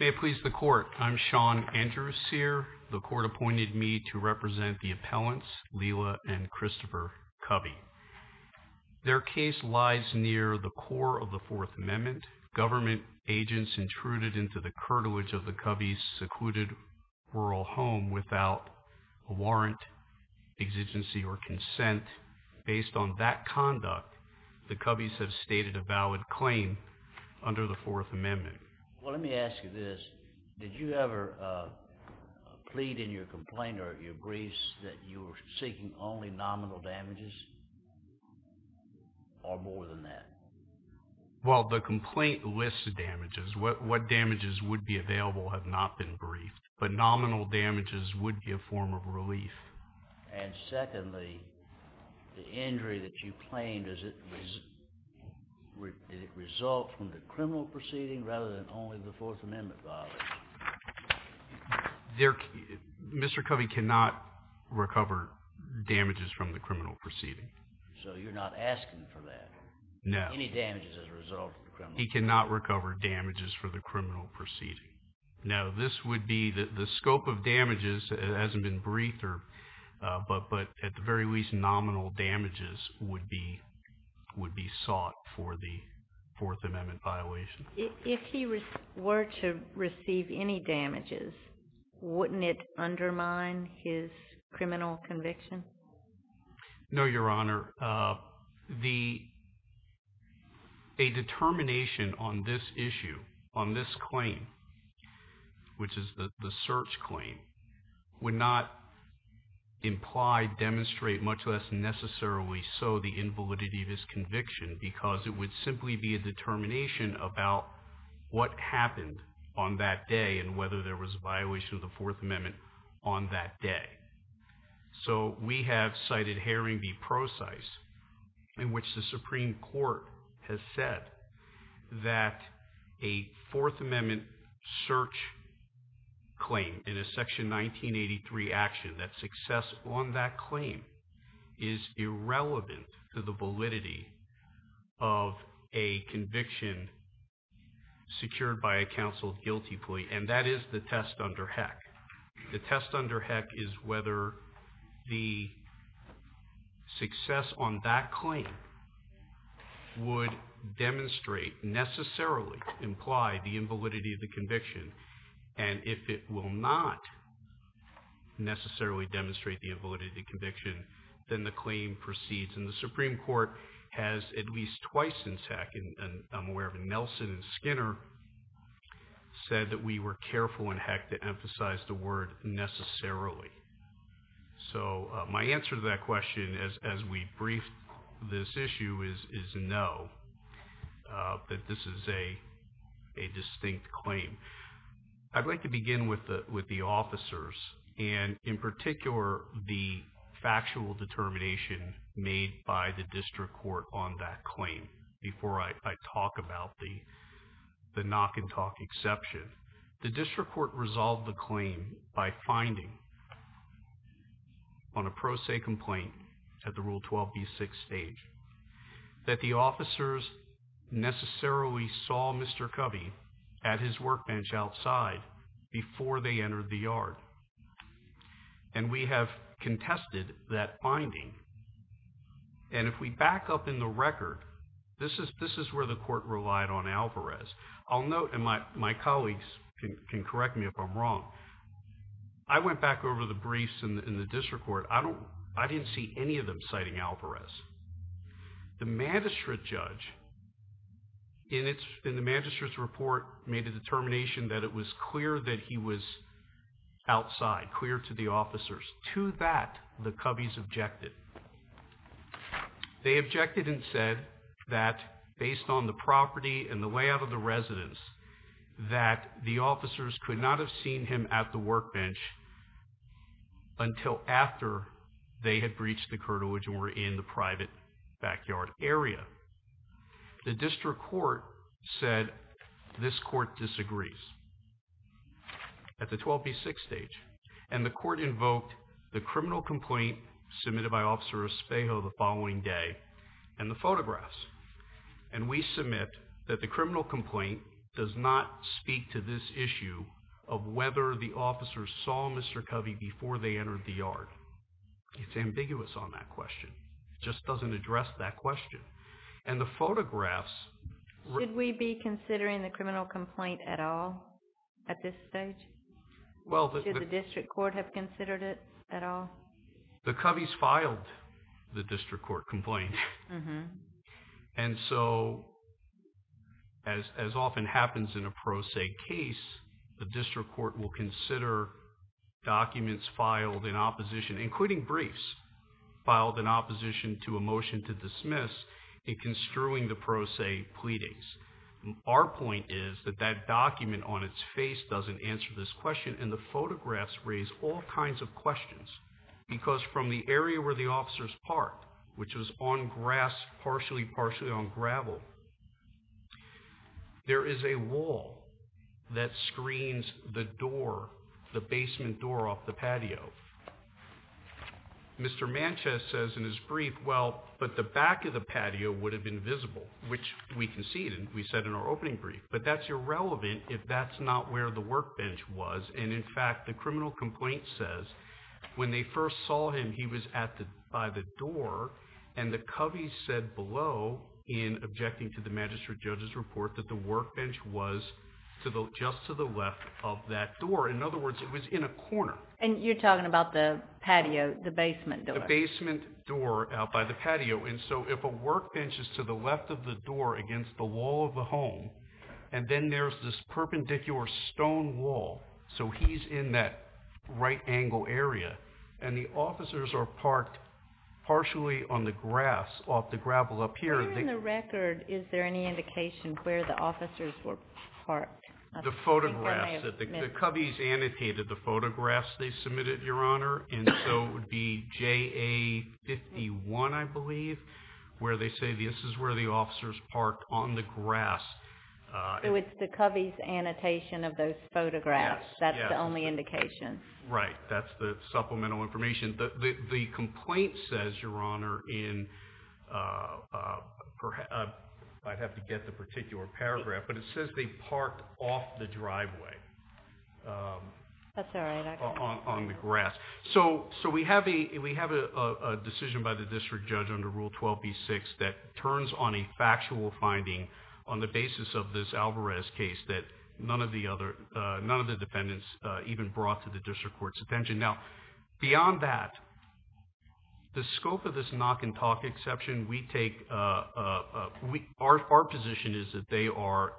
May it please the court, I'm Sean Andrew Sear. The court appointed me to represent the appellants Lila and Christopher Covey. Their case lies near the core of the Fourth Amendment. Government agents intruded into the curtilage of the Covey's secluded rural home without a warrant, exigency, or consent. Based on that conduct, the Coveys have stated a valid claim under the Fourth Amendment. Well let me ask you this, did you ever plead in your complaint or your briefs that you were seeking only nominal damages or more than that? Well the complaint lists the damages. What damages would be available have not been briefed, but nominal damages would be a form of relief. And secondly, the injury that you claimed, does it result from the criminal proceeding rather than only the Fourth Amendment violation? Mr. Covey cannot recover damages from the criminal proceeding. So you're not asking for that? No. Any damages as a result? He cannot recover damages for the criminal proceeding. No, this would be that the scope of damages hasn't been briefed, but at the very least nominal damages would be sought for the Fourth Amendment violation. If he were to receive any damages, wouldn't it undermine his criminal conviction? No, Your Honor. A determination on this issue, on this claim, which is the search claim, would not imply, demonstrate, much less necessarily so, the invalidity of his conviction, because it would simply be a determination about what happened on that day and whether there was a violation of the Fourth Amendment on that day. So we have cited Haring v. Procise, in which the Supreme 1983 action, that success on that claim is irrelevant to the validity of a conviction secured by a counsel guilty plea, and that is the test under Heck. The test under Heck is whether the success on that claim would demonstrate, necessarily imply, the invalidity of the conviction, and if it will not necessarily demonstrate the invalidity of the conviction, then the claim proceeds. And the Supreme Court has, at least twice since Heck, and I'm aware of Nelson and Skinner, said that we were careful in Heck to emphasize the word necessarily. So my answer to that question, as we brief this issue, is no, that this is a distinct claim. I'd like to begin with the officers and, in particular, the factual determination made by the District Court on that claim, before I talk about the the knock-and-talk exception. The District Court resolved the claim by finding, on a pro se complaint at the Rule 12b6 stage, that the officers necessarily saw Mr. Cubby at his workbench outside before they entered the yard. And we have contested that finding, and if we back up in the record, this is where the court relied on Alvarez. I'll note, and my I went back over the briefs in the District Court. I didn't see any of them citing Alvarez. The magistrate judge, in the magistrate's report, made a determination that it was clear that he was outside, clear to the officers. To that, the Cubby's objected. They objected and said that, based on the property and the layout of the residence, that the officers could not have seen him at the workbench until after they had breached the curtilage and were in the private backyard area. The District Court said, this court disagrees, at the 12b6 stage. And the court invoked the criminal complaint submitted by Officer Espejo the criminal complaint does not speak to this issue of whether the officers saw Mr. Cubby before they entered the yard. It's ambiguous on that question. It just doesn't address that question. And the photographs... Did we be considering the criminal complaint at all, at this stage? Should the District Court have considered it at all? The Cubby's filed the District Court complaint. And so, as often happens in a pro se case, the District Court will consider documents filed in opposition, including briefs, filed in opposition to a motion to dismiss in construing the pro se pleadings. Our point is that that document on its face doesn't answer this because from the area where the officers parked, which was on grass, partially partially on gravel, there is a wall that screens the door, the basement door off the patio. Mr. Manchester says in his brief, well, but the back of the patio would have been visible, which we conceded, we said in our opening brief, but that's irrelevant if that's not where the workbench was. And in fact, the officers saw him, he was by the door, and the Cubby said below, in objecting to the magistrate judge's report, that the workbench was just to the left of that door. In other words, it was in a corner. And you're talking about the patio, the basement door? The basement door out by the patio. And so, if a workbench is to the left of the door against the wall of the home, and then there's this perpendicular stone wall, so he's in that right-angle area, and the officers are parked partially on the grass off the gravel up here. Here in the record, is there any indication where the officers were parked? The photographs, the Cubby's annotated the photographs they submitted, Your Honor, and so it would be JA 51, I believe, where they say this is where the officers parked on the grass. So it's the Cubby's annotation of those photographs? Yes. That's the only indication? Right, that's the supplemental information. The complaint says, Your Honor, in perhaps, I'd have to get the particular paragraph, but it says they parked off the driveway. That's all right. I got it. On the grass. So we have a decision by the district judge under Rule 12b6 that turns on a factual finding on the basis of this Alvarez case that none of the defendants even brought to the district court's attention. Beyond that, the scope of this knock and talk exception, we take... our position is that they are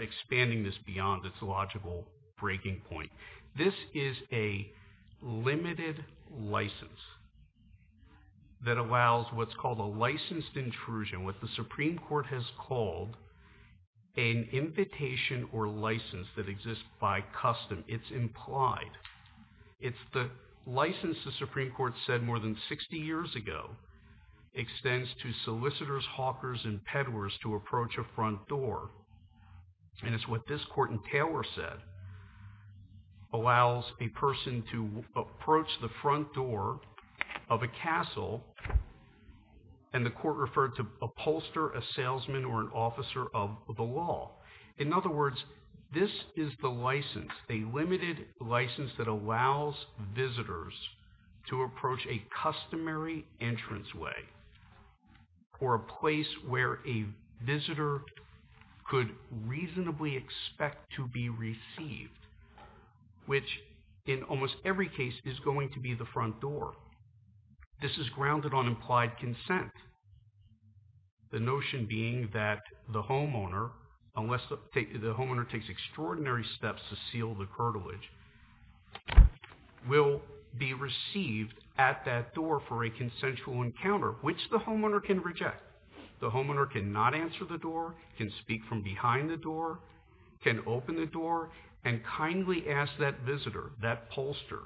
expanding this beyond its logical breaking point. This is a limited license that allows what's called a licensed intrusion, what the Supreme Court has called an invitation or license that exists by custom. It's implied. It's the license the Supreme Court said more than 60 years ago extends to solicitors, hawkers, and peddlers to approach a front door, and it's what this court in Taylor said allows a person to approach the front door of a castle, and the court referred to a pollster, a salesman, or an officer of the law. In other words, this is the license, a limited license that allows visitors to approach a customary entranceway or a place where a visitor could reasonably expect to be received, which in almost every case is going to be the front door. This is grounded on implied consent, the notion being that the homeowner, unless the homeowner takes extraordinary steps to seal the curtilage, will be received at that door for a consensual encounter, which the homeowner can reject. The homeowner cannot answer the door, can speak from behind the door, can open the door, and kindly ask that visitor, that pollster,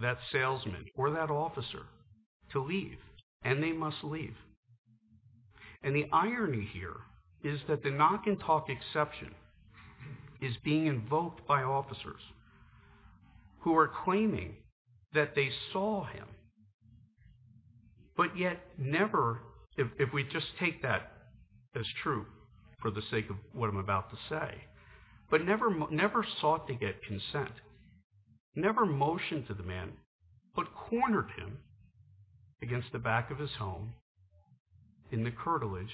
that salesman, or that officer to leave, and they must leave. And the irony here is that the knock and talk exception is being invoked by If we just take that as true for the sake of what I'm about to say, but never sought to get consent, never motioned to the man, but cornered him against the back of his home in the curtilage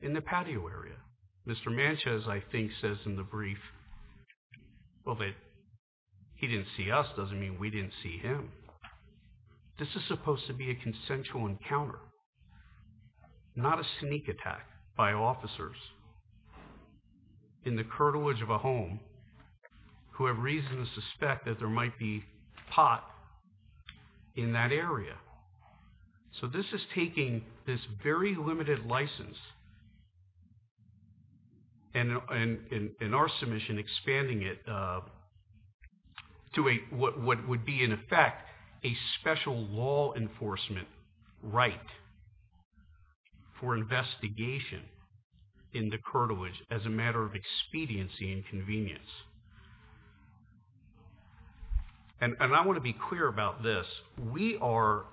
in the patio area. Mr. Manchez, I think, says in the brief, well, that he didn't see us doesn't mean we didn't see him. This is supposed to be a consensual encounter, not a sneak attack by officers in the curtilage of a home who have reason to suspect that there might be pot in that area. So this is taking this very limited license, and in our submission, expanding it to what would be, in effect, a special law enforcement right for investigation in the curtilage as a matter of expediency and convenience. And I want to be clear about this. We are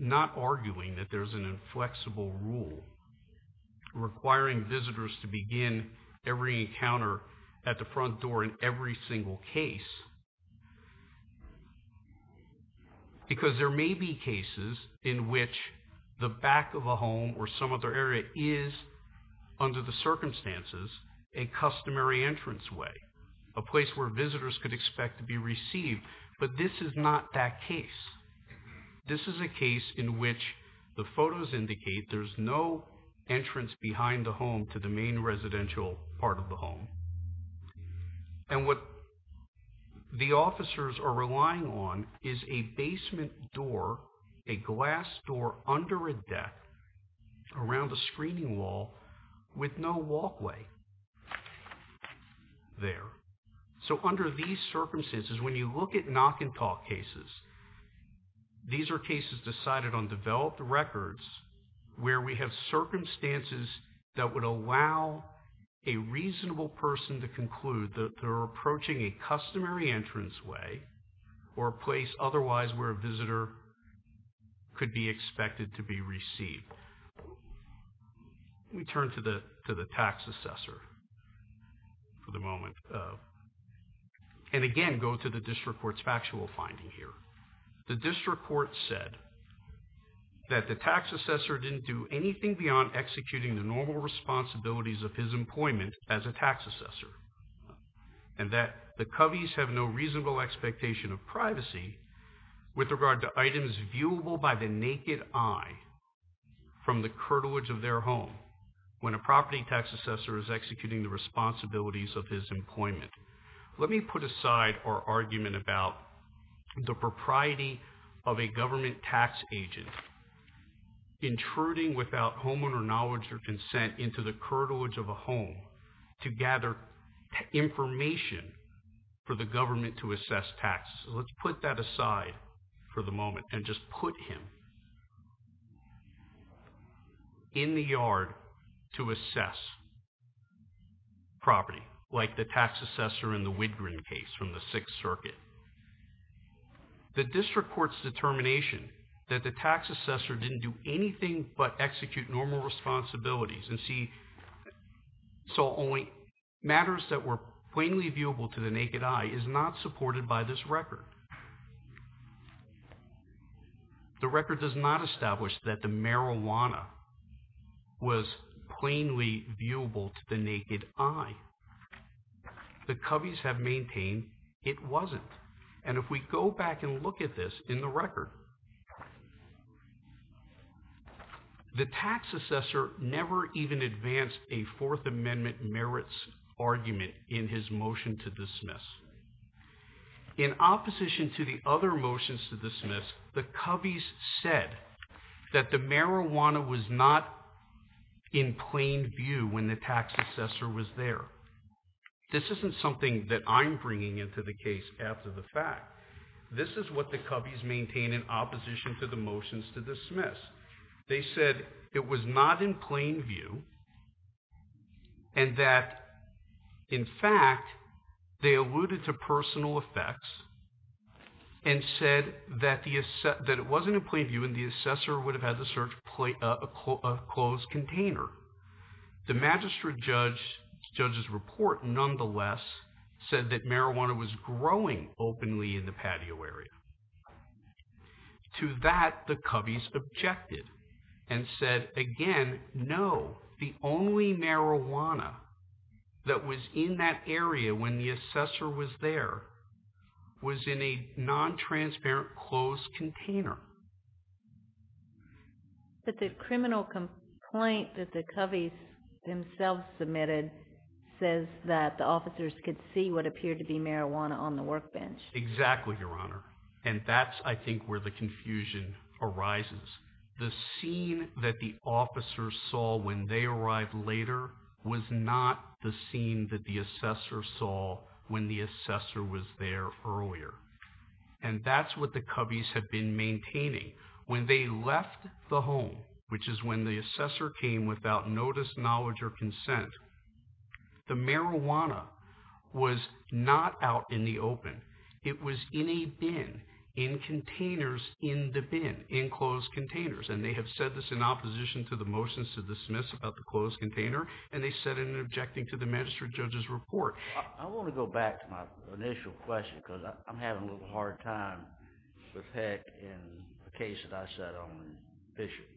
not arguing that there's an inflexible rule requiring visitors to every single case, because there may be cases in which the back of a home or some other area is, under the circumstances, a customary entrance way, a place where visitors could expect to be received. But this is not that case. This is a case in which the photos indicate there's no entrance behind the And what the officers are relying on is a basement door, a glass door, under a deck, around a screening wall, with no walkway there. So under these circumstances, when you look at knock-and-talk cases, these are cases decided on developed records where we have circumstances that would allow a reasonable person to conclude that they're approaching a customary entrance way or a place otherwise where a visitor could be expected to be received. We turn to the tax assessor for the moment. And again, go to the district court's factual finding here. The district court said that the tax assessor didn't do anything beyond executing the normal responsibilities of his employment as a tax assessor, and that the Coveys have no reasonable expectation of privacy with regard to items viewable by the naked eye from the curtilage of their home when a property tax assessor is executing the responsibilities of his employment. Let me put aside our argument about the propriety of a government tax agent intruding without homeowner knowledge or consent into the curtilage of a home to gather information for the government to assess taxes. Let's put that aside for the moment and just put him in the yard to assess property, like the tax assessor in the Widgren case from the Sixth Circuit. The district court's determination that the tax assessor didn't do anything but execute normal responsibilities and see matters that were plainly viewable to the naked eye is not supported by this record. The record does not establish that the marijuana was plainly viewable to the naked eye. The Coveys have maintained it wasn't. And if we go back and look at this in the record, the tax assessor never even advanced a Fourth Amendment merits argument in his motion to dismiss. In opposition to the other motions to dismiss, the Coveys said that the marijuana was not in plain view when the tax assessor was there. This isn't something that I'm bringing into the case after the fact. This is what the Coveys maintain in opposition to the motions to dismiss. They said it was not in plain view and that, in fact, they alluded to personal effects and said that it wasn't in plain view and the assessor would have had to search a closed container. The magistrate judge's report, nonetheless, said that marijuana was growing openly in the patio area. To that, the Coveys objected and said, again, no. The only marijuana that was in that area when the assessor was there was in a non-transparent closed container. But the criminal complaint that the Coveys themselves submitted says that the officers could see what appeared to be marijuana on the workbench. Exactly, Your Honor, and that's, I think, where the confusion arises. The scene that the officers saw when they arrived later was not the scene that the assessor saw when the assessor was there earlier. And that's what the Coveys have been maintaining. When they left the home, which is when the assessor came without notice, knowledge, or consent, the marijuana was not out in the open. It was in a bin, in containers in the bin, in closed containers. And they have said this in opposition to the motions to dismiss about the closed container, and they said it in objecting to the magistrate judge's report. I want to go back to my initial question, because I'm having a little hard time with that in the case that I sat on with Bishop.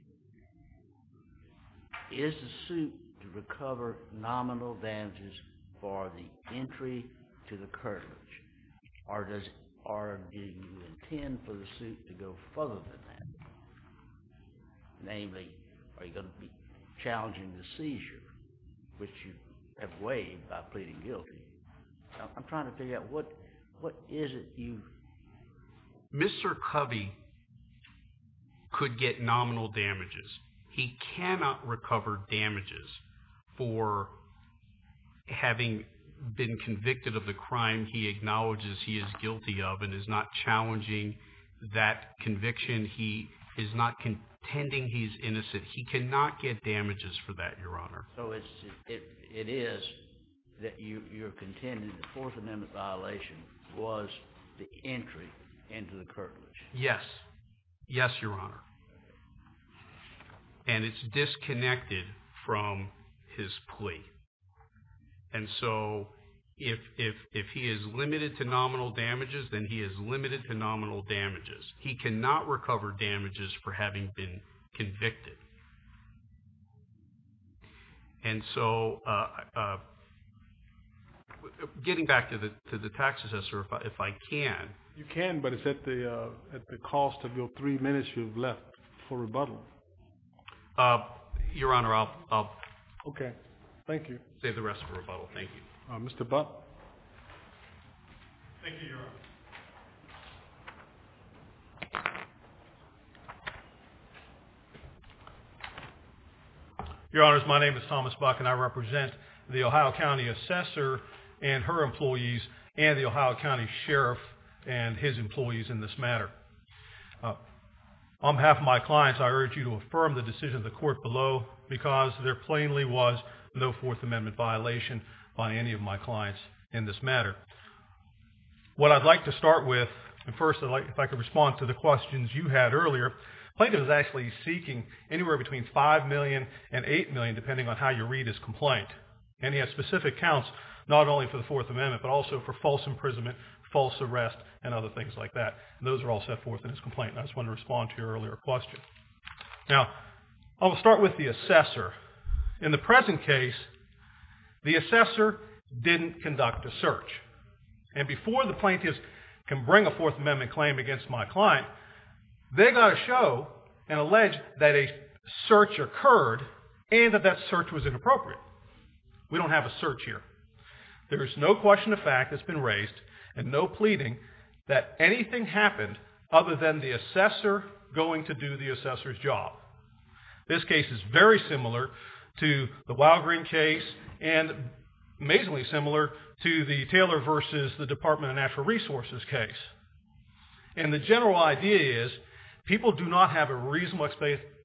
Is the suit to recover nominal damages for the entry to the courthouse, or do you intend for the suit to go further than that? Namely, are you going to be challenging the seizure, which you have waived by pleading guilty? I'm trying to figure out what is it you? Mr. Covey could get nominal damages. He cannot recover damages for having been convicted of the crime he acknowledges he is guilty of and is not challenging that conviction. He is not contending he's innocent. He cannot get damages for that, Your Honor. So it is that you're contending the Fourth Amendment violation was the entry into the curtilage? Yes. Yes, Your Honor. And it's disconnected from his plea. And so if he is limited to nominal damages, then he is limited to nominal damages. He cannot recover damages for having been convicted. And so getting back to the tax assessor, if I can. You can, but it's at the cost of your three minutes you've left for rebuttal. Your Honor, I'll save the rest for rebuttal. Thank you. Mr. Butt. Thank you, Your Honor. Your Honor, my name is Thomas Buck, and I represent the Ohio County assessor and her employees and the Ohio County sheriff and his employees in this matter. On behalf of my clients, I urge you to affirm the decision of the court below because there plainly was no Fourth Amendment violation by any of my clients in this matter. What I'd like to start with, and first, if I could respond to the questions you had earlier, Plaintiff is actually seeking anywhere between $5 million and $8 million, depending on how you read his complaint. And he has specific counts, not only for the Fourth Amendment, but also for false imprisonment, false arrest, and other things like that. And those are all set forth in his complaint. And I just want to respond to your earlier question. Now, I'll start with the assessor. In the present case, the assessor didn't conduct a search. And before the plaintiff can bring a Fourth Amendment claim against my client, they've got to show and allege that a search occurred and that that search was inappropriate. We don't have a search here. There is no question of fact that's been raised and no pleading that anything happened other than the assessor going to do the assessor's job. This case is very similar to the Wild Green case and amazingly similar to the Taylor versus the Department of Natural Resources case. And the general idea is people do not have a reasonable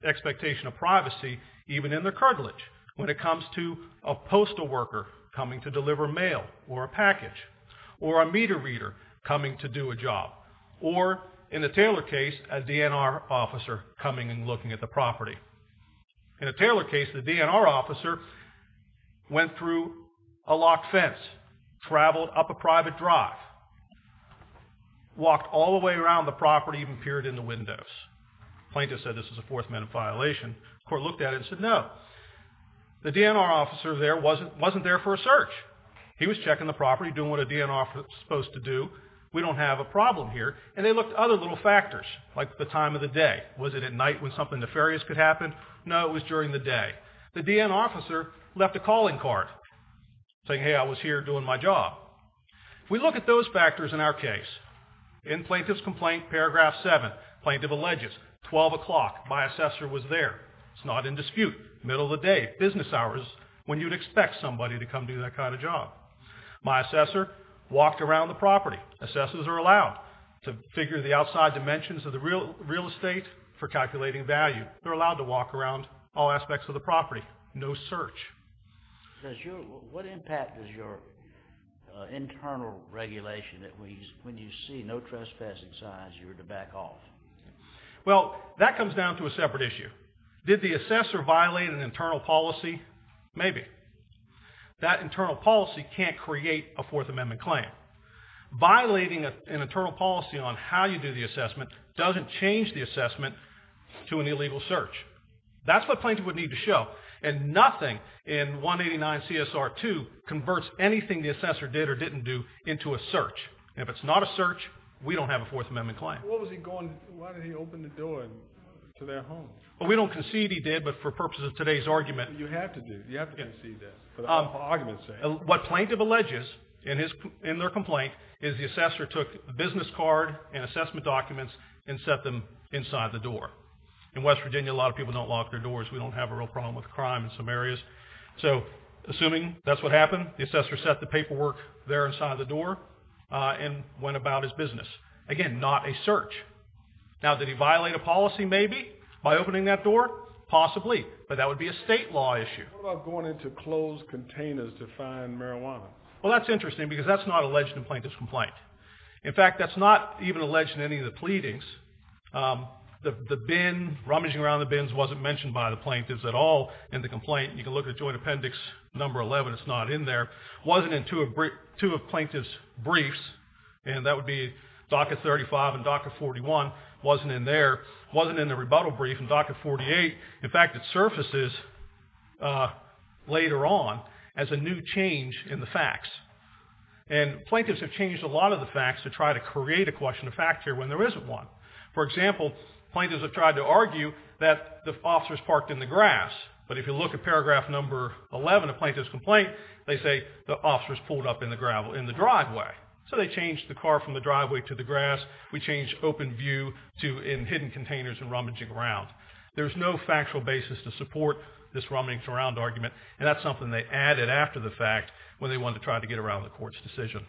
expectation of privacy, even in their cartilage, when it comes to a postal worker coming to deliver mail or a package or a meter reader coming to do a job or, in the Taylor case, a DNR officer coming and looking at the property. In the Taylor case, the DNR officer went through a locked fence, travelled up a private drive, walked all the way around the property, even peered in the windows. Plaintiff said this is a Fourth Amendment violation. Court looked at it and said, no. The DNR officer there wasn't there for a search. He was checking the property, doing what a DNR is supposed to do. We don't have a problem here. And they looked at other little factors, like the time of the day. Was it at night when something nefarious could happen? No, it was during the day. The DNR officer left a calling card saying, hey, I was here doing my job. If we look at those factors in our case, in Plaintiff's Complaint, paragraph 7, plaintiff alleges 12 o'clock, my assessor was there. It's not in dispute. Middle of the day, business hours when you'd expect somebody to come do that kind of job. My assessor walked around the property. Assessors are allowed to figure the outside dimensions of the real estate for calculating value. They're allowed to walk around all aspects of the property. No search. What impact is your internal regulation that when you see no trespassing signs, you're to back off? Well, that comes down to a separate issue. Did the assessor violate an internal policy? Maybe. That internal policy can't create a Fourth Amendment claim. Violating an internal policy on how you do the assessment doesn't change the assessment to an illegal search. That's what plaintiff would need to show. And nothing in 189 CSR 2 converts anything the assessor did or didn't do into a search. And if it's not a search, we don't have a Fourth Amendment claim. Why did he open the door to their home? Well, we don't concede he did, but for purposes of today's argument... You have to do, you have to concede that, for the argument's sake. What plaintiff alleges in their complaint is the assessor took the business card and assessment documents and set them inside the door. In West Virginia, a lot of people don't lock their doors. We don't have a real problem with crime in some areas. So, assuming that's what happened, the assessor set the paperwork there inside the door and went about his business. Again, not a search. Now, did he violate a policy, maybe, by opening that door? Possibly, but that would be a state law issue. What about going into closed containers to find marijuana? Well, that's interesting, because that's not alleged in a plaintiff's complaint. In fact, that's not even alleged in any of the pleadings. The bin, rummaging around the bins, wasn't mentioned by the plaintiffs at all in the complaint. You can look at Joint Appendix No. 11, it's not in there. It wasn't in two of plaintiffs' briefs, and that would be DACA 35 and DACA 41. It wasn't in there. It wasn't in the rebuttal brief in DACA 48. In fact, it surfaces later on as a new change in the facts. And plaintiffs have changed a lot of the facts to try to create a question of fact here when there isn't one. For example, plaintiffs have tried to argue that the officer's parked in the grass, but if you look at Paragraph No. 11 of plaintiff's complaint, they say the officer's pulled up in the driveway. So they changed the car from the driveway to the grass. We changed open view to in hidden containers and rummaging around. There's no factual basis to support this rummaging around argument, and that's something they added after the fact when they wanted to try to get around the court's decision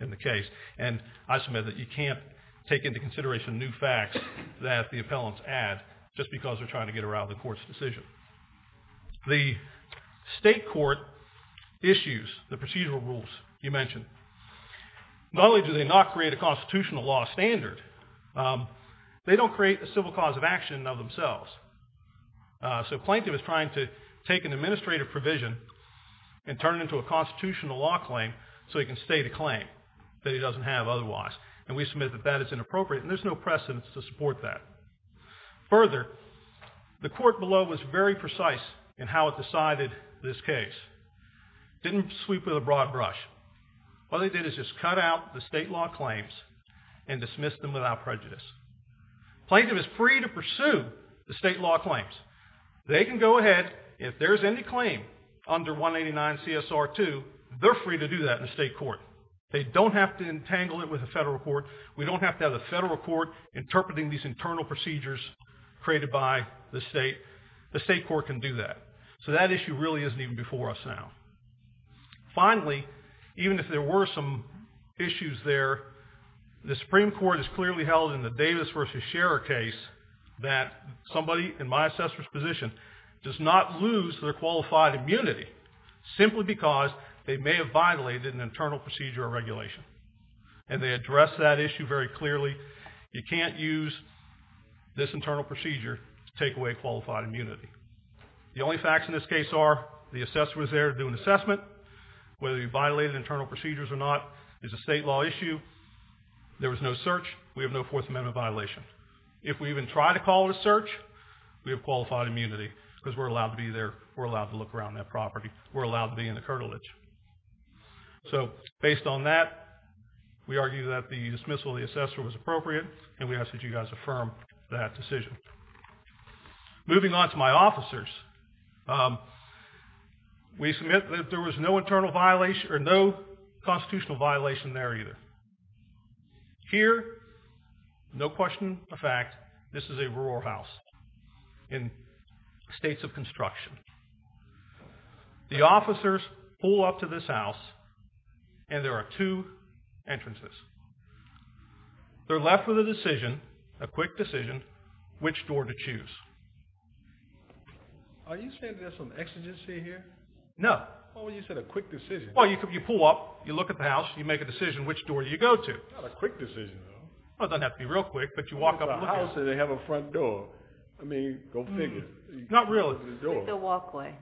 in the case. And I submit that you can't take into consideration new facts that the appellants add just because they're trying to get around the court's decision. The state court issues the procedural rules you mentioned. Not only do they not create a constitutional law standard, they don't create a civil cause of action of themselves. So plaintiff is trying to take an administrative provision and turn it into a constitutional law claim so he can state a claim that he doesn't have otherwise. And we submit that that is inappropriate, and there's no precedence to support that. Further, the court below was very precise in how it decided this case. Didn't sweep with a broad brush. All they did is just cut out the state law claims and dismiss them without prejudice. Plaintiff is free to pursue the state law claims. They can go ahead, if there's any claim under 189 CSR 2, they're free to do that in the state court. They don't have to entangle it with the federal court. We don't have to have the federal court interpreting these internal procedures created by the state. The state court can do that. So that issue really isn't even before us now. Finally, even if there were some issues there, the Supreme Court has clearly held in the Davis versus Scherer case that somebody in my assessor's position does not lose their qualified immunity simply because they may have violated an internal procedure or regulation. And they addressed that issue very clearly. You can't use this internal procedure to take away qualified immunity. The only facts in this case are the assessor was there to do an assessment. Whether you violated internal procedures or not is a state law issue. There was no search. We have no Fourth Amendment violation. If we even try to call it a search, we have qualified immunity because we're allowed to be there. We're allowed to look around that property. We're allowed to be in the curtilage. So based on that, we argue that the dismissal of the assessor was appropriate, and we ask that you guys affirm that decision. Moving on to my officers. We submit that there was no internal violation, or no constitutional violation there either. Here, no question of fact, this is a rural house in states of construction. The officers pull up to this house, and there are two entrances. They're left with a decision, a quick decision, which door to choose. Are you saying there's some exigency here? No. Well, you said a quick decision. Well, you pull up, you look at the house, you make a decision which door you go to. Not a quick decision, though. Well, it doesn't have to be real quick, but you walk up and look at it. What about a house that they have a front door? I mean, go figure. Not really. With a walkway.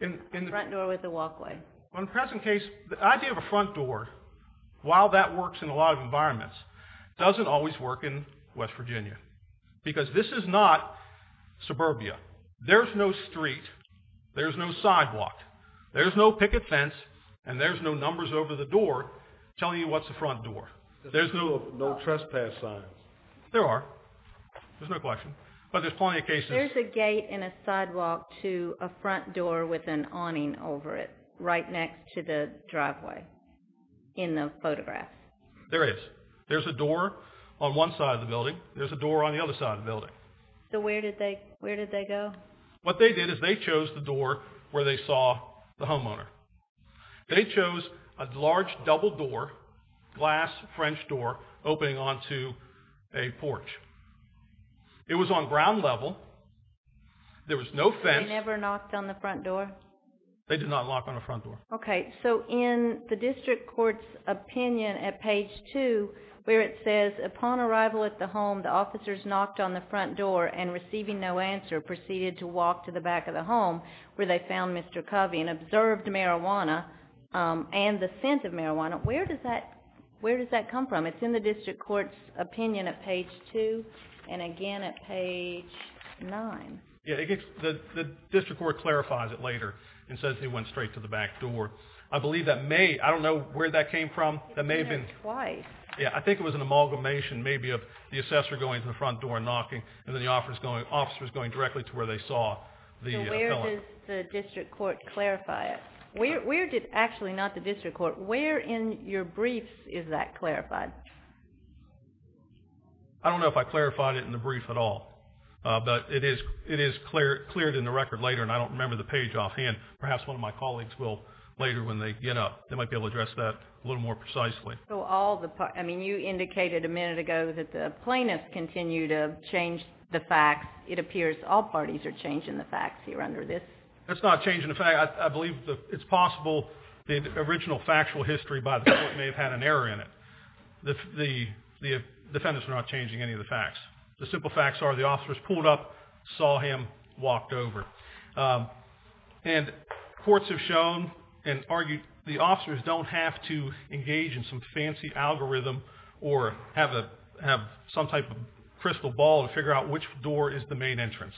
A front door with a walkway. Well, in the present case, the idea of a front door, while that works in a lot of environments, doesn't always work in West Virginia, because this is not suburbia. There's no street. There's no sidewalk. There's no picket fence, and there's no numbers over the door telling you what's a front door. There's no trespass signs. There are. There's no question. But there's plenty of cases. There's a gate and a sidewalk to a front door with an awning over it, right next to the driveway, in the photograph. There is. There's a door on one side of the building. There's a door on the other side of the building. So where did they go? What they did is they chose the door where they saw the homeowner. They chose a large double door, glass French door, opening onto a porch. It was on ground level. There was no fence. They never knocked on the front door? They did not knock on the front door. Okay, so in the district court's opinion at page two, where it says, upon arrival at the home, the officers knocked on the front door, and receiving no answer, proceeded to walk to the back of the home, where they found Mr. Covey and observed marijuana, and the scent of marijuana. Where does that come from? It's in the district court's opinion at page two, and again at page nine. Yeah, the district court clarifies it later, and says they went straight to the back door. I believe that may, I don't know where that came from. That may have been. It's been there twice. Yeah, I think it was an amalgamation, maybe of the assessor going to the front door and knocking, and then the officer's going directly to where they saw the felon. Where does the district court clarify it? Where did, actually not the district court, where in your briefs is that clarified? I don't know if I clarified it in the brief at all, but it is cleared in the record later, and I don't remember the page offhand. Perhaps one of my colleagues will later, when they get up, they might be able to address that a little more precisely. So all the, I mean, you indicated a minute ago that the plaintiffs continue to change the facts. It appears all parties are changing the facts here under this. That's not changing the facts. I believe it's possible the original factual history by the court may have had an error in it. The defendants are not changing any of the facts. The simple facts are the officers pulled up, saw him, walked over. And courts have shown and argued the officers don't have to engage in some fancy algorithm or have some type of crystal ball to figure out which door is the main entrance.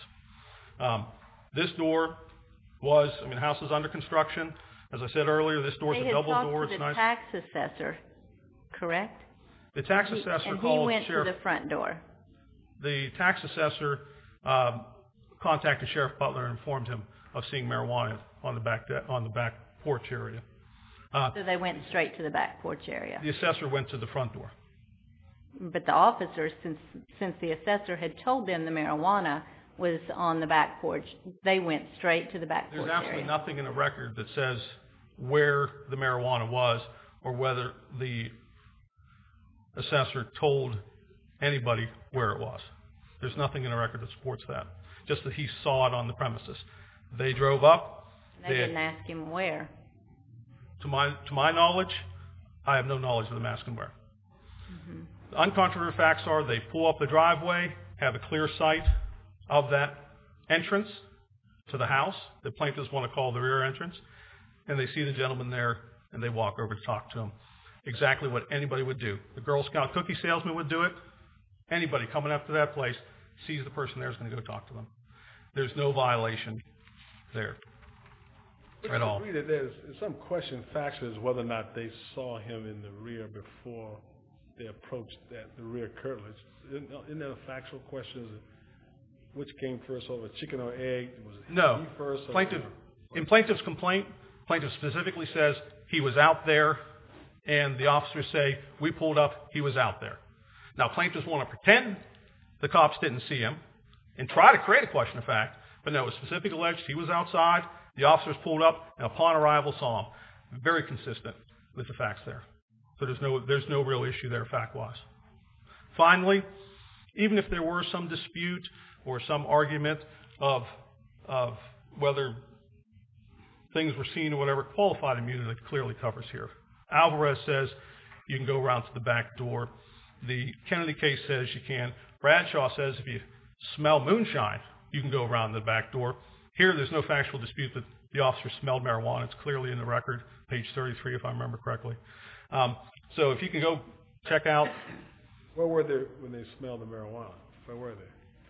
This door was, I mean, the house was under construction. As I said earlier, this door's a double door. They had talked to the tax assessor, correct? The tax assessor called the sheriff. And he went to the front door. The tax assessor contacted Sheriff Butler and informed him of seeing marijuana on the back porch area. So they went straight to the back porch area. The assessor went to the front door. But the officers, since the assessor had told them the marijuana was on the back porch, they went straight to the back porch area. There's absolutely nothing in the record that says where the marijuana was or whether the assessor told anybody where it was. There's nothing in the record that supports that. Just that he saw it on the premises. They drove up. They didn't ask him where. To my knowledge, I have no knowledge of them asking where. The uncontroversial facts are they pull up the driveway, have a clear sight of that entrance to the house that plaintiffs want to call the rear entrance, and they see the gentleman there and they walk over to talk to him. Exactly what anybody would do. The Girl Scout cookie salesman would do it. Anybody coming up to that place sees the person there is going to go talk to them. There's no violation there at all. There's some question, factually, whether or not they saw him in the rear before they approached the rear curtilage. Isn't that a factual question? Which came first, over chicken or egg? No, in plaintiff's complaint, plaintiff specifically says he was out there and the officers say, we pulled up, he was out there. Now, plaintiffs want to pretend the cops didn't see him and try to create a question of fact, but no, it was specifically alleged he was outside, the officers pulled up, and upon arrival, saw him, very consistent with the facts there. So there's no real issue there, fact-wise. Finally, even if there were some dispute or some argument of whether things were seen or whatever, qualified immunity clearly covers here. Alvarez says you can go around to the back door. The Kennedy case says you can. Bradshaw says if you smell moonshine, you can go around the back door. Here, there's no factual dispute that the officers smelled marijuana. It's clearly in the record, page 33, if I remember correctly. So if you can go check out. Where were they when they smelled the marijuana? Where were they?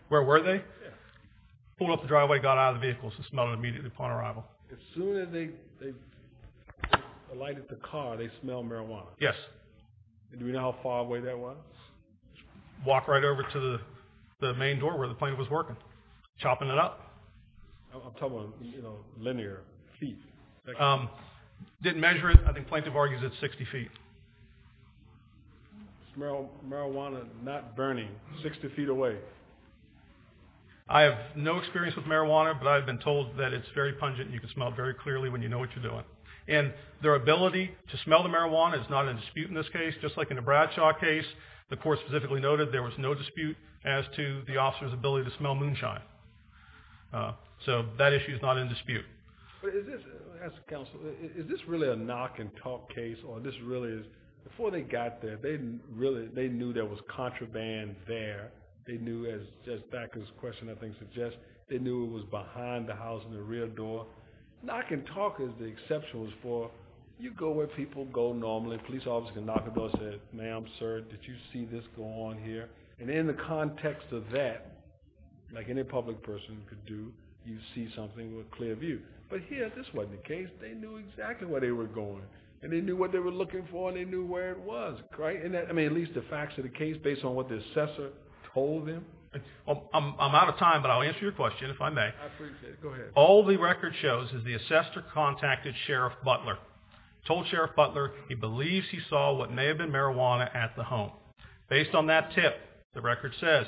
Where were they? Pulled up the driveway, got out of the vehicle, smelled it immediately upon arrival. As soon as they alighted the car, they smelled marijuana? Yes. Do we know how far away that was? Walked right over to the main door where the plaintiff was working, chopping it up. I'll tell them, you know, linear, feet. Didn't measure it. I think plaintiff argues it's 60 feet. Smelled marijuana, not burning, 60 feet away. I have no experience with marijuana, but I've been told that it's very pungent and you can smell it very clearly when you know what you're doing. And their ability to smell the marijuana is not in dispute in this case. Just like in the Bradshaw case, the court specifically noted there was no dispute as to the officer's ability to smell moonshine. So that issue's not in dispute. But is this, I'll ask the counsel, is this really a knock and talk case or this really is, before they got there, they knew there was contraband there. They knew, as backer's question I think suggests, they knew it was behind the house in the rear door. Knock and talk is the exception was for, you go where people go normally. Police officer can knock on the door and say, ma'am, sir, did you see this go on here? And in the context of that, like any public person could do, you see something with a clear view. But here, this wasn't the case. They knew exactly where they were going. And they knew what they were looking for and they knew where it was, right? And that, I mean, at least the facts of the case based on what the assessor told them. I'm out of time, but I'll answer your question if I may. I appreciate it, go ahead. All the record shows is the assessor contacted Sheriff Butler. Told Sheriff Butler he believes he saw what may have been marijuana at the home. Based on that tip, the record says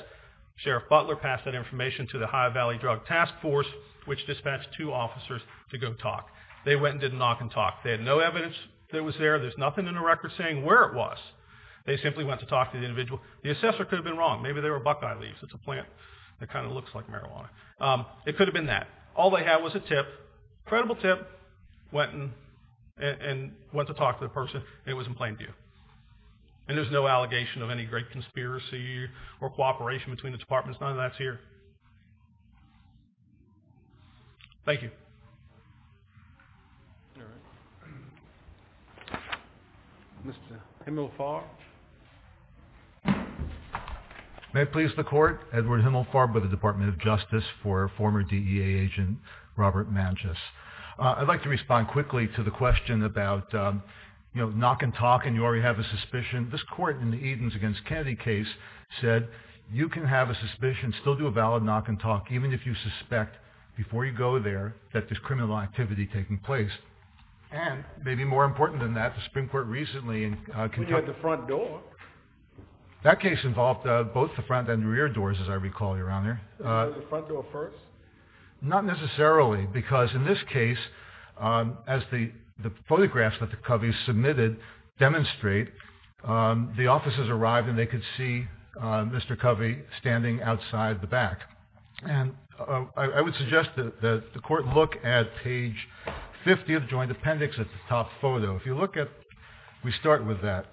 Sheriff Butler passed that information to the High Valley Drug Task Force, which dispatched two officers to go talk. They went and did a knock and talk. They had no evidence that it was there. There's nothing in the record saying where it was. They simply went to talk to the individual. The assessor could have been wrong. Maybe they were buckeye leaves. It's a plant that kind of looks like marijuana. It could have been that. All they had was a tip, credible tip. Went and went to talk to the person. It was in plain view. And there's no allegation of any great conspiracy or cooperation between the departments. None of that's here. Thank you. Mr. Himmelfarb. May it please the court. Edward Himmelfarb with the Department of Justice for former DEA agent Robert Manchus. I'd like to respond quickly to the question about knock and talk and you already have a suspicion. This court in the Edens against Kennedy case said you can have a suspicion, still do a valid knock and talk, even if you suspect before you go there that there's criminal activity taking place. And maybe more important than that, the Supreme Court recently in Kentucky. When you had the front door. That case involved both the front and rear doors, as I recall, Your Honor. The front door first? Not necessarily because in this case, as the photographs that the Coveys submitted demonstrate, the officers arrived and they could see Mr. Covey standing outside the back. And I would suggest that the court look at page 50 of the joint appendix at the top photo. If you look at, we start with that.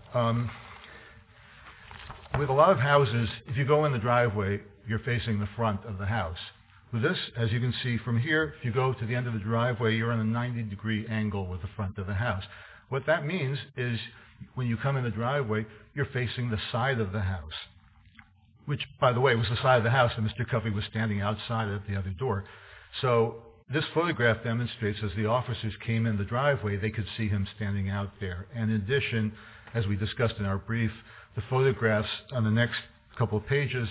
With a lot of houses, if you go in the driveway, you're facing the front of the house. With this, as you can see from here, if you go to the end of the driveway, you're in a 90 degree angle with the front of the house. What that means is when you come in the driveway, you're facing the side of the house, which by the way, was the side of the house and Mr. Covey was standing outside at the other door. So this photograph demonstrates as the officers came in the driveway, they could see him standing out there. And in addition, as we discussed in our brief, the photographs on the next couple of pages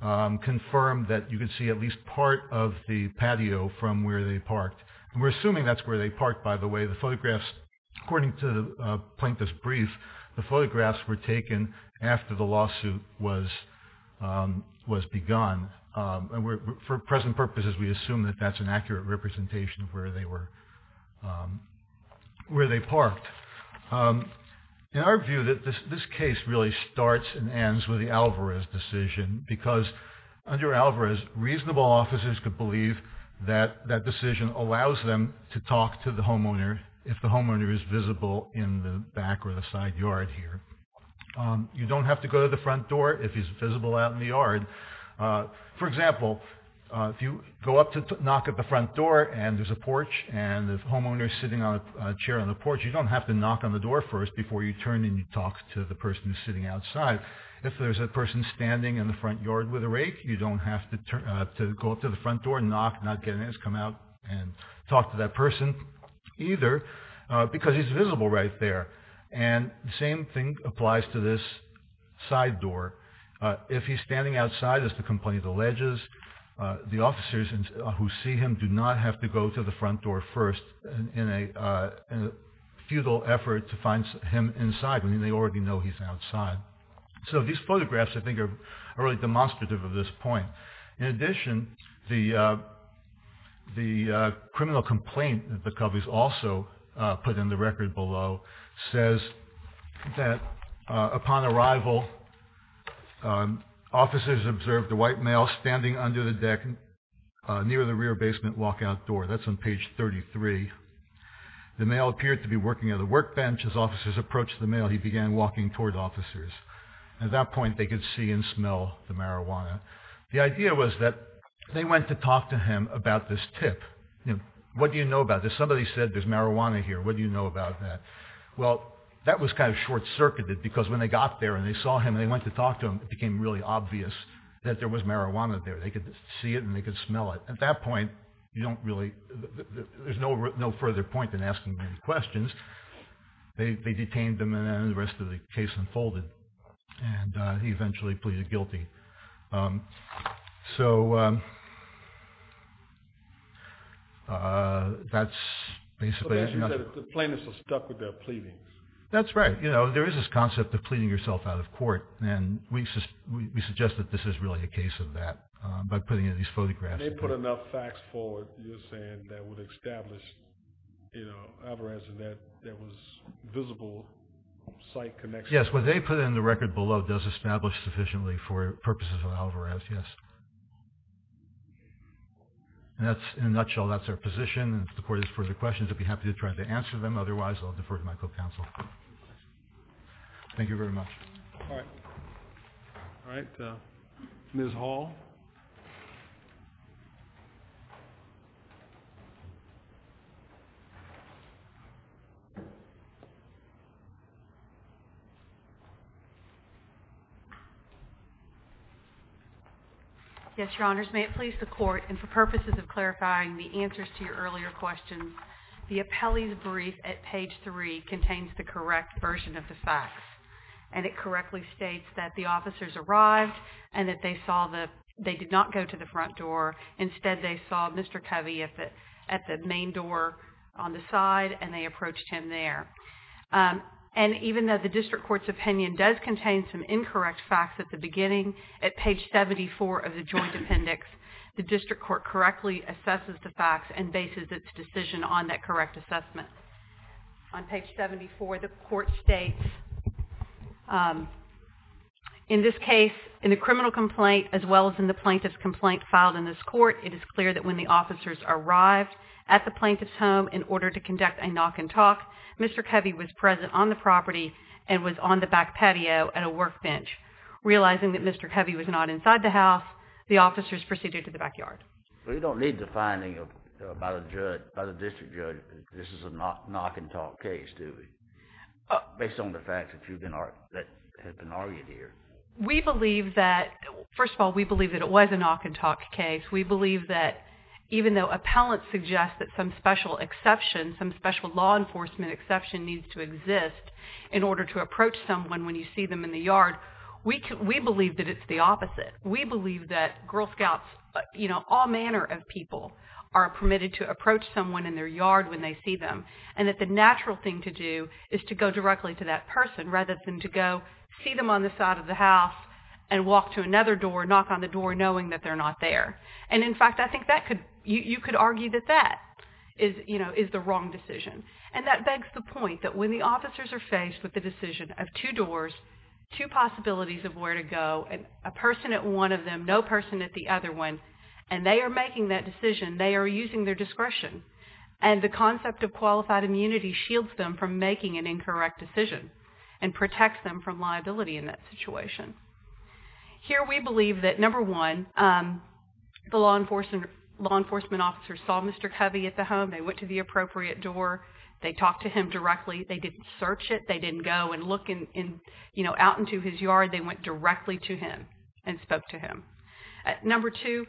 confirm that you can see at least part of the patio from where they parked. And we're assuming that's where they parked, by the way. The photographs, according to the plaintiff's brief, the photographs were taken after the lawsuit was begun. For present purposes, we assume that that's an accurate representation of where they parked. In our view, this case really starts and ends with the Alvarez decision because under Alvarez, reasonable officers could believe that that decision allows them to talk to the homeowner if the homeowner is visible in the back or the side yard here. You don't have to go to the front door if he's visible out in the yard. For example, if you go up to knock at the front door and there's a porch and the homeowner's sitting on a chair on the porch, you don't have to knock on the door first before you turn and you talk to the person who's sitting outside. If there's a person standing in the front yard with a rake, you don't have to go up to the front door and knock, not get in, just come out and talk to that person either because he's visible right there. And the same thing applies to this side door. If he's standing outside, as the complaint alleges, the officers who see him do not have to go to the front door first in a futile effort to find him inside when they already know he's outside. So these photographs, I think, are really demonstrative of this point. In addition, the criminal complaint that the Coveys also put in the record below says that upon arrival, officers observed a white male standing under the deck near the rear basement walkout door. That's on page 33. The male appeared to be working at the workbench as officers approached the male. He began walking toward officers. At that point, they could see and smell the marijuana. The idea was that they went to talk to him about this tip. What do you know about this? Somebody said there's marijuana here. What do you know about that? Well, that was kind of short-circuited because when they got there and they saw him and they went to talk to him, it became really obvious that there was marijuana there. They could see it and they could smell it. At that point, you don't really, there's no further point in asking any questions. They detained him and the rest of the case unfolded and he eventually pleaded guilty. So, that's basically- So, as you said, the plaintiffs are stuck with their pleadings. That's right. There is this concept of pleading yourself out of court and we suggest that this is really a case of that by putting in these photographs. They put enough facts forward, you're saying, that would establish Alvarez and that there was visible site connection. Yes, what they put in the record below does establish sufficiently for purposes of Alvarez, yes. And that's, in a nutshell, that's our position and if the court has further questions, I'd be happy to try to answer them. Otherwise, I'll defer to my co-counsel. Thank you very much. All right. All right, Ms. Hall. Yes, Your Honors, may it please the court and for purposes of clarifying the answers to your earlier questions, the appellee's brief at page three contains the correct version of the facts and it correctly states that the officers arrived and that they did not go to the front door. Instead, they saw Mr. Covey at the main door on the side and they approached him there. And even though the district court's opinion does contain some incorrect facts at the beginning, at page 74 of the joint appendix, the district court correctly assesses the facts and bases its decision on that correct assessment. On page 74, the court states, in this case, in the criminal complaint as well as in the plaintiff's complaint filed in this court, it is clear that when the officers arrived at the plaintiff's home in order to conduct a knock and talk, Mr. Covey was present on the property and was on the back patio at a workbench. Realizing that Mr. Covey was not inside the house, the officers proceeded to the backyard. We don't need the finding by the district judge that this is a knock and talk case, do we? Based on the fact that you've been, that has been argued here. We believe that, first of all, we believe that it was a knock and talk case. We believe that even though appellant suggests that some special exception, some special law enforcement exception needs to exist, in order to approach someone when you see them in the yard, we believe that it's the opposite. We believe that Girl Scouts, you know, all manner of people are permitted to approach someone in their yard when they see them. And that the natural thing to do is to go directly to that person rather than to go see them on the side of the house and walk to another door, knock on the door, knowing that they're not there. And in fact, I think that could, you could argue that that is, you know, is the wrong decision. And that begs the point that when the officers are faced with the decision of two doors, two possibilities of where to go, and a person at one of them, no person at the other one, and they are making that decision, they are using their discretion. And the concept of qualified immunity shields them from making an incorrect decision and protects them from liability in that situation. Here we believe that, number one, the law enforcement officers saw Mr. Covey at the home, they went to the appropriate door, they talked to him directly, they didn't search it, they didn't go and look in, you know, out into his yard, they went directly to him and spoke to him. Number two,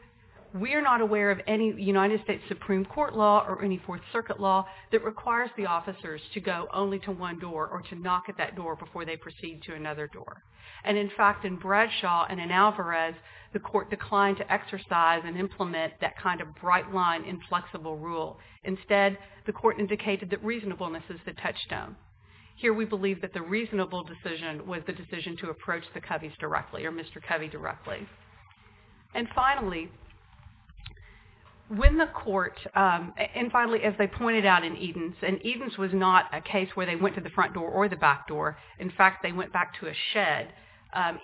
we are not aware of any United States Supreme Court law or any Fourth Circuit law that requires the officers to go only to one door or to knock at that door before they proceed to another door. And in fact, in Bradshaw and in Alvarez, the court declined to exercise and implement that kind of bright line inflexible rule. Instead, the court indicated that reasonableness is the touchstone. Here we believe that the reasonable decision was the decision to approach the Coveys directly or Mr. Covey directly. And finally, when the court, and finally, as they pointed out in Edens, and Edens was not a case where they went to the front door or the back door. In fact, they went back to a shed,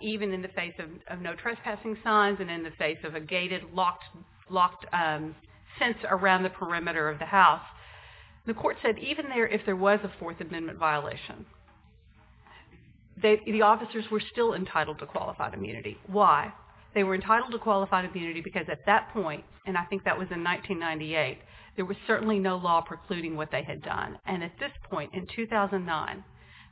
even in the face of no trespassing signs and in the face of a gated locked fence around the perimeter of the house. The court said even there, if there was a Fourth Amendment violation, the officers were still entitled to qualified immunity. Why? They were entitled to qualified immunity because at that point, and I think that was in 1998, there was certainly no law precluding what they had done. And at this point in 2009,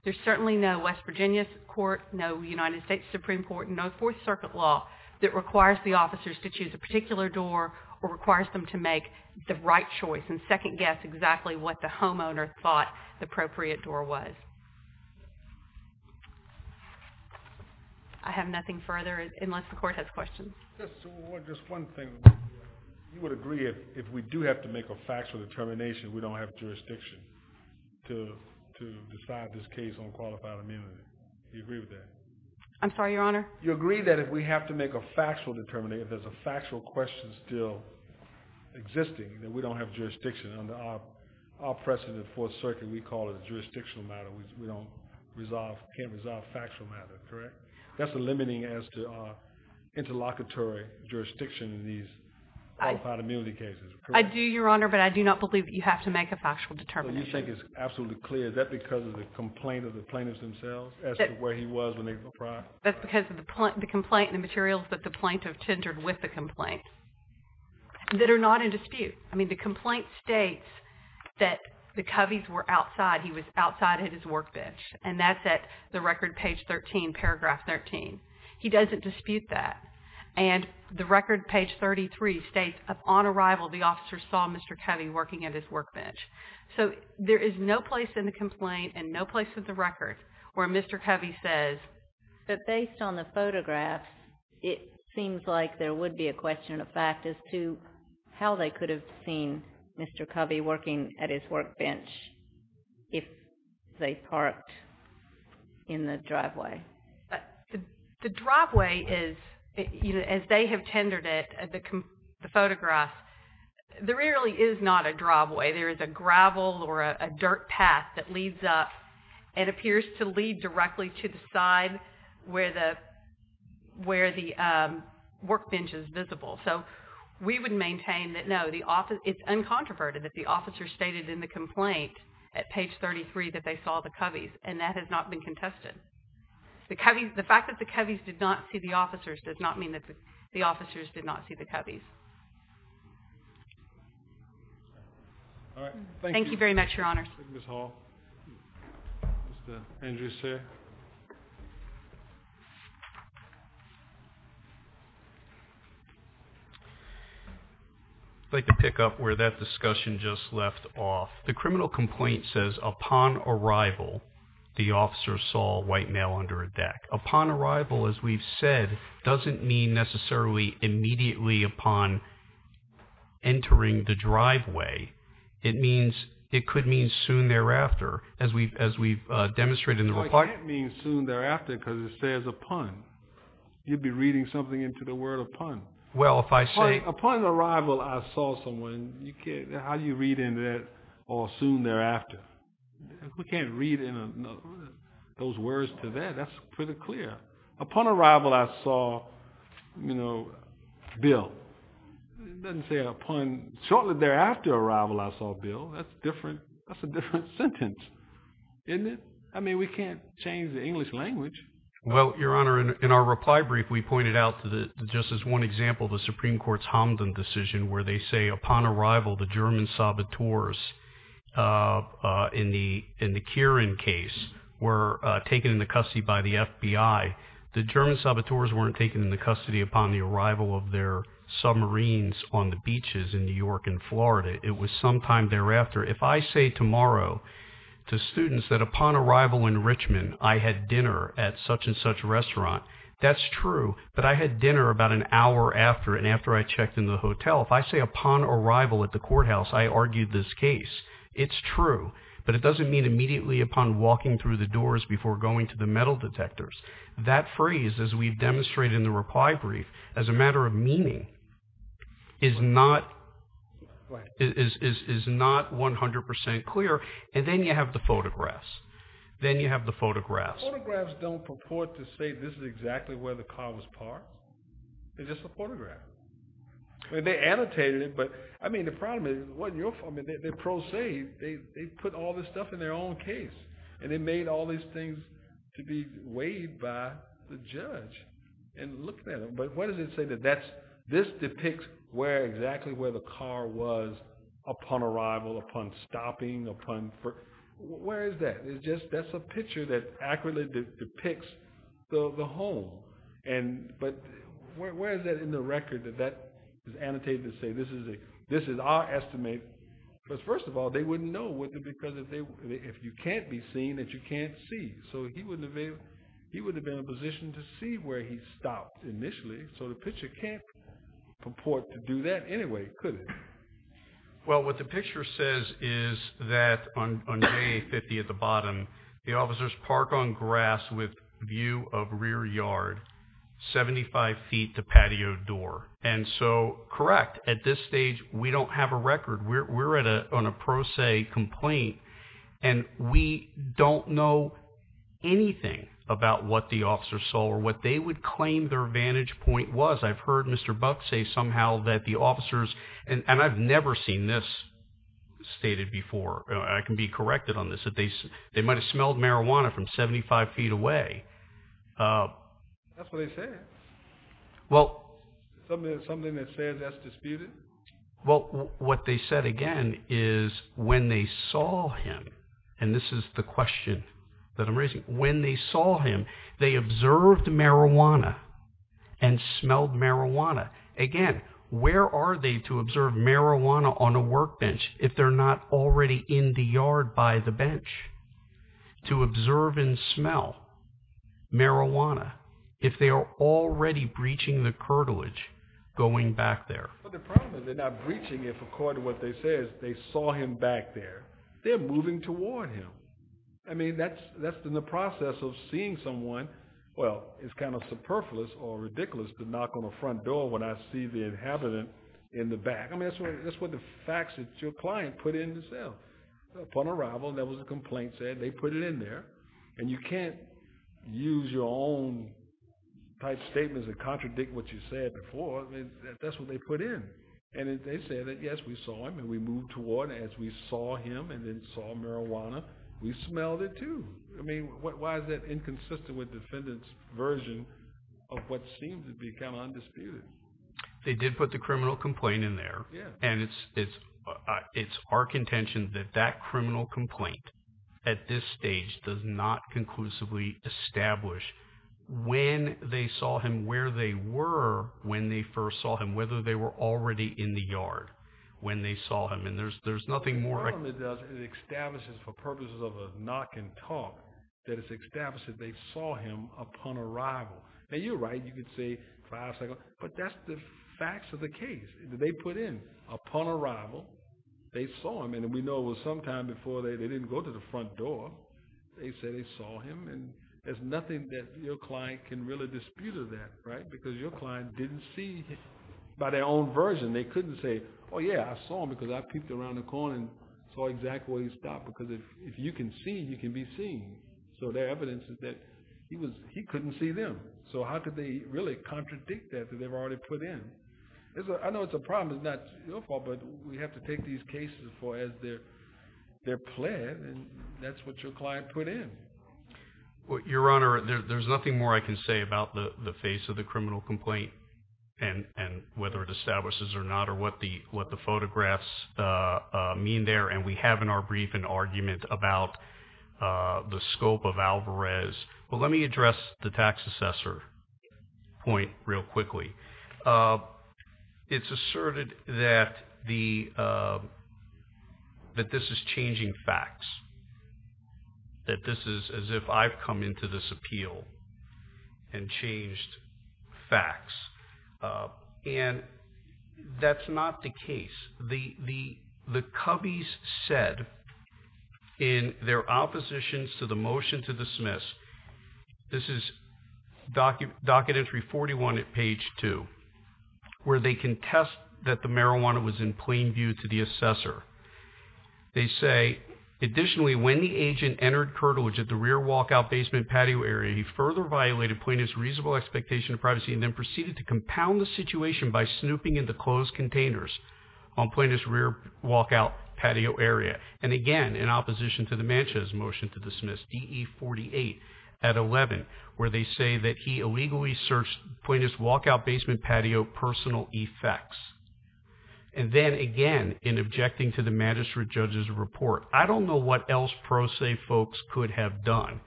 there's certainly no West Virginia's court, no United States Supreme Court, no Fourth Circuit law that requires the officers to choose a particular door or requires them to make the right choice and second guess exactly what the homeowner thought the appropriate door was. I have nothing further unless the court has questions. Just one thing. You would agree if we do have to make a factual determination, we don't have jurisdiction to decide this case on qualified immunity. You agree with that? I'm sorry, Your Honor? You agree that if we have to make a factual determination, if there's a factual question still existing, then we don't have jurisdiction. Under our precedent at Fourth Circuit, we call it a jurisdictional matter. We don't resolve, can't resolve factual matter, correct? That's a limiting as to our interlocutory jurisdiction in these qualified immunity cases, correct? I do, Your Honor, but I do not believe that you have to make a factual determination. So you think it's absolutely clear. Is that because of the complaint of the plaintiffs themselves as to where he was when they were deprived? That's because of the complaint and the materials that the plaintiff tendered with the complaint that are not in dispute. I mean, the complaint states that the Coveys were outside. He was outside at his workbench, and that's at the record, page 13, paragraph 13. He doesn't dispute that. And the record, page 33, states upon arrival, the officer saw Mr. Covey working at his workbench. So there is no place in the complaint and no place in the record where Mr. Covey says. But based on the photograph, it seems like there would be a question of fact as to how they could have seen Mr. Covey working at his workbench if they parked in the driveway. The driveway is, as they have tendered it, the photograph, there really is not a driveway. There is a gravel or a dirt path that leads up and appears to lead directly to the side where the workbench is visible. So we would maintain that, no, it's uncontroverted that the officer stated in the complaint at page 33 that they saw the Coveys, and that has not been contested. The fact that the Coveys did not see the officers does not mean that the officers did not see the Coveys. All right, thank you. Thank you very much, Your Honor. Thank you, Ms. Hall. Mr. Andrews here. I'd like to pick up where that discussion just left off. The criminal complaint says upon arrival, the officers saw a white male under a deck. Upon arrival, as we've said, doesn't mean necessarily immediately upon entering the driveway. It means, it could mean soon thereafter, as we've demonstrated in the reply. It doesn't mean soon thereafter, because it says upon. You'd be reading something into the word upon. Well, if I say- Upon arrival, I saw someone. How do you read into that, or soon thereafter? We can't read those words to that. That's pretty clear. Upon arrival, I saw, you know, Bill. It doesn't say upon, shortly thereafter arrival, I saw Bill. That's different. That's a different sentence, isn't it? I mean, we can't change the English language. Well, Your Honor, in our reply brief, we pointed out, just as one example, the Supreme Court's Hamdan decision, where they say upon arrival, the German saboteurs in the Kieran case were taken into custody by the FBI. The German saboteurs weren't taken into custody upon the arrival of their submarines on the beaches in New York and Florida. It was sometime thereafter. If I say tomorrow to students that upon arrival in Richmond, I had dinner at such and such restaurant, that's true, but I had dinner about an hour after and after I checked in the hotel. If I say upon arrival at the courthouse, I argued this case, it's true, but it doesn't mean immediately upon walking through the doors before going to the metal detectors. That phrase, as we've demonstrated in the reply brief, as a matter of meaning, is not 100% clear, and then you have the photographs. Then you have the photographs. Photographs don't purport to say this is exactly where the car was parked. It's just a photograph. They annotated it, but I mean, the problem is, they prosaic, they put all this stuff in their own case, and they made all these things to be weighed by the judge and looked at it, but what does it say? This depicts exactly where the car was upon arrival, upon stopping, upon, where is that? That's a picture that accurately depicts the home, but where is that in the record that that is annotated to say this is our estimate? Because first of all, they wouldn't know, because if you can't be seen, then you can't see, so he wouldn't have been in a position to see where he stopped initially, so the picture can't purport to do that anyway, could it? Well, what the picture says is that on day 50 at the bottom, the officers park on grass with view of rear yard, 75 feet to patio door, and so, correct, at this stage, we don't have a record. We're on a prosaic complaint, and we don't know anything about what the officers saw or what they would claim their vantage point was. I've heard Mr. Buck say somehow that the officers, and I've never seen this stated before. I can be corrected on this, that they might have smelled marijuana from 75 feet away. That's what they said. Well. Something that says that's disputed? Well, what they said again is when they saw him, and this is the question that I'm raising, when they saw him, they observed marijuana and smelled marijuana. Again, where are they to observe marijuana on a workbench if they're not already in the yard by the bench to observe and smell marijuana if they are already breaching the curtilage going back there? Well, the problem is they're not breaching it for according to what they say is they saw him back there. They're moving toward him. I mean, that's in the process of seeing someone, well, it's kind of superfluous or ridiculous to knock on a front door when I see the inhabitant in the back. I mean, that's what the facts that your client put in the cell. Upon arrival, there was a complaint said, they put it in there, and you can't use your own type statements and contradict what you said before. I mean, that's what they put in. And they said that, yes, we saw him, and we moved toward it as we saw him and then saw marijuana. We smelled it, too. I mean, why is that inconsistent with defendant's version of what seems to be kind of undisputed? They did put the criminal complaint in there, and it's our contention that that criminal complaint at this stage does not conclusively establish when they saw him, where they were when they first saw him, whether they were already in the yard when they saw him. And there's nothing more- What it does is it establishes, for purposes of a knock and talk, that it's established that they saw him upon arrival. Now, you're right. You could say five seconds, but that's the facts of the case that they put in. Upon arrival, they saw him, and we know it was sometime before they didn't go to the front door. They said they saw him, and there's nothing that your client can really dispute of that, right? Because your client didn't see it by their own version. They couldn't say, oh yeah, I saw him because I peeped around the corner and saw exactly where he stopped, because if you can see, you can be seen. So their evidence is that he couldn't see them. So how could they really contradict that that they've already put in? I know it's a problem. It's not your fault, but we have to take these cases for as they're planned, and that's what your client put in. Your Honor, there's nothing more I can say about the face of the criminal complaint and whether it establishes or not or what the photographs mean there, and we have in our brief an argument about the scope of Alvarez. Well, let me address the tax assessor point real quickly. It's asserted that this is changing facts, that this is as if I've come into this appeal and changed facts, and that's not the case. The Cubbies said in their oppositions to the motion to dismiss, this is docket entry 41 at page two, where they contest that the marijuana was in plain view to the assessor. They say, additionally, when the agent entered curtilage at the rear walkout basement patio area, he further violated plaintiff's reasonable expectation of privacy and then proceeded to compound the situation by snooping in the closed containers on plaintiff's rear walkout patio area, and again, in opposition to the Manches motion to dismiss, DE 48 at 11, where they say that he illegally searched plaintiff's walkout basement patio personal effects, and then again, in objecting to the magistrate judge's report. I don't know what else pro se folks could have done.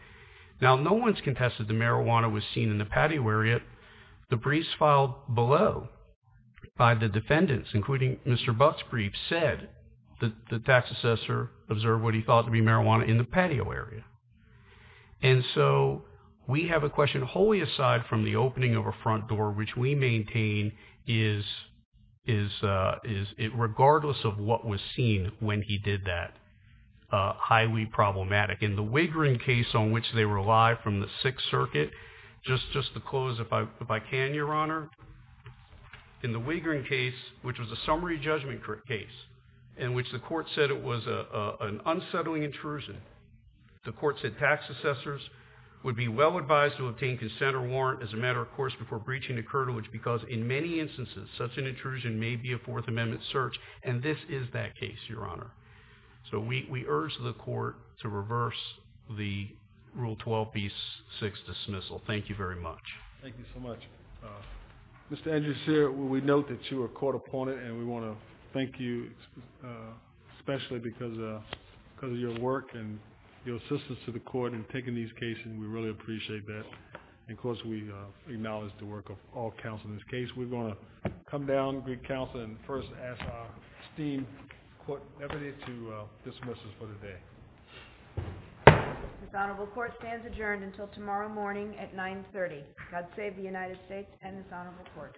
Now, no one's contested the marijuana was seen in the patio area. The briefs filed below by the defendants, including Mr. Buck's brief, said that the tax assessor observed what he thought to be marijuana in the patio area, and so we have a question wholly aside from the opening of a front door, which we maintain is, regardless of what was seen when he did that, highly problematic, in the Wigrin case on which they relied from the Sixth Circuit, just to close, if I can, Your Honor, in the Wigrin case, which was a summary judgment case, in which the court said it was an unsettling intrusion, the court said tax assessors would be well advised to obtain consent or warrant as a matter of course before breaching the curtail, which because in many instances, such an intrusion may be a Fourth Amendment search, and this is that case, Your Honor. So we urge the court to reverse the Rule 12b-6 dismissal. Thank you very much. Thank you so much. Mr. Andrew Sear, we note that you are a court opponent, and we want to thank you, especially because of your work and your assistance to the court in taking these cases, and we really appreciate that. And of course, we acknowledge the work of all counsel in this case. We're gonna come down, great counsel, and first ask our esteemed court deputy to dismiss us for the day. This honorable court stands adjourned until tomorrow morning at 9.30. God save the United States and this honorable court.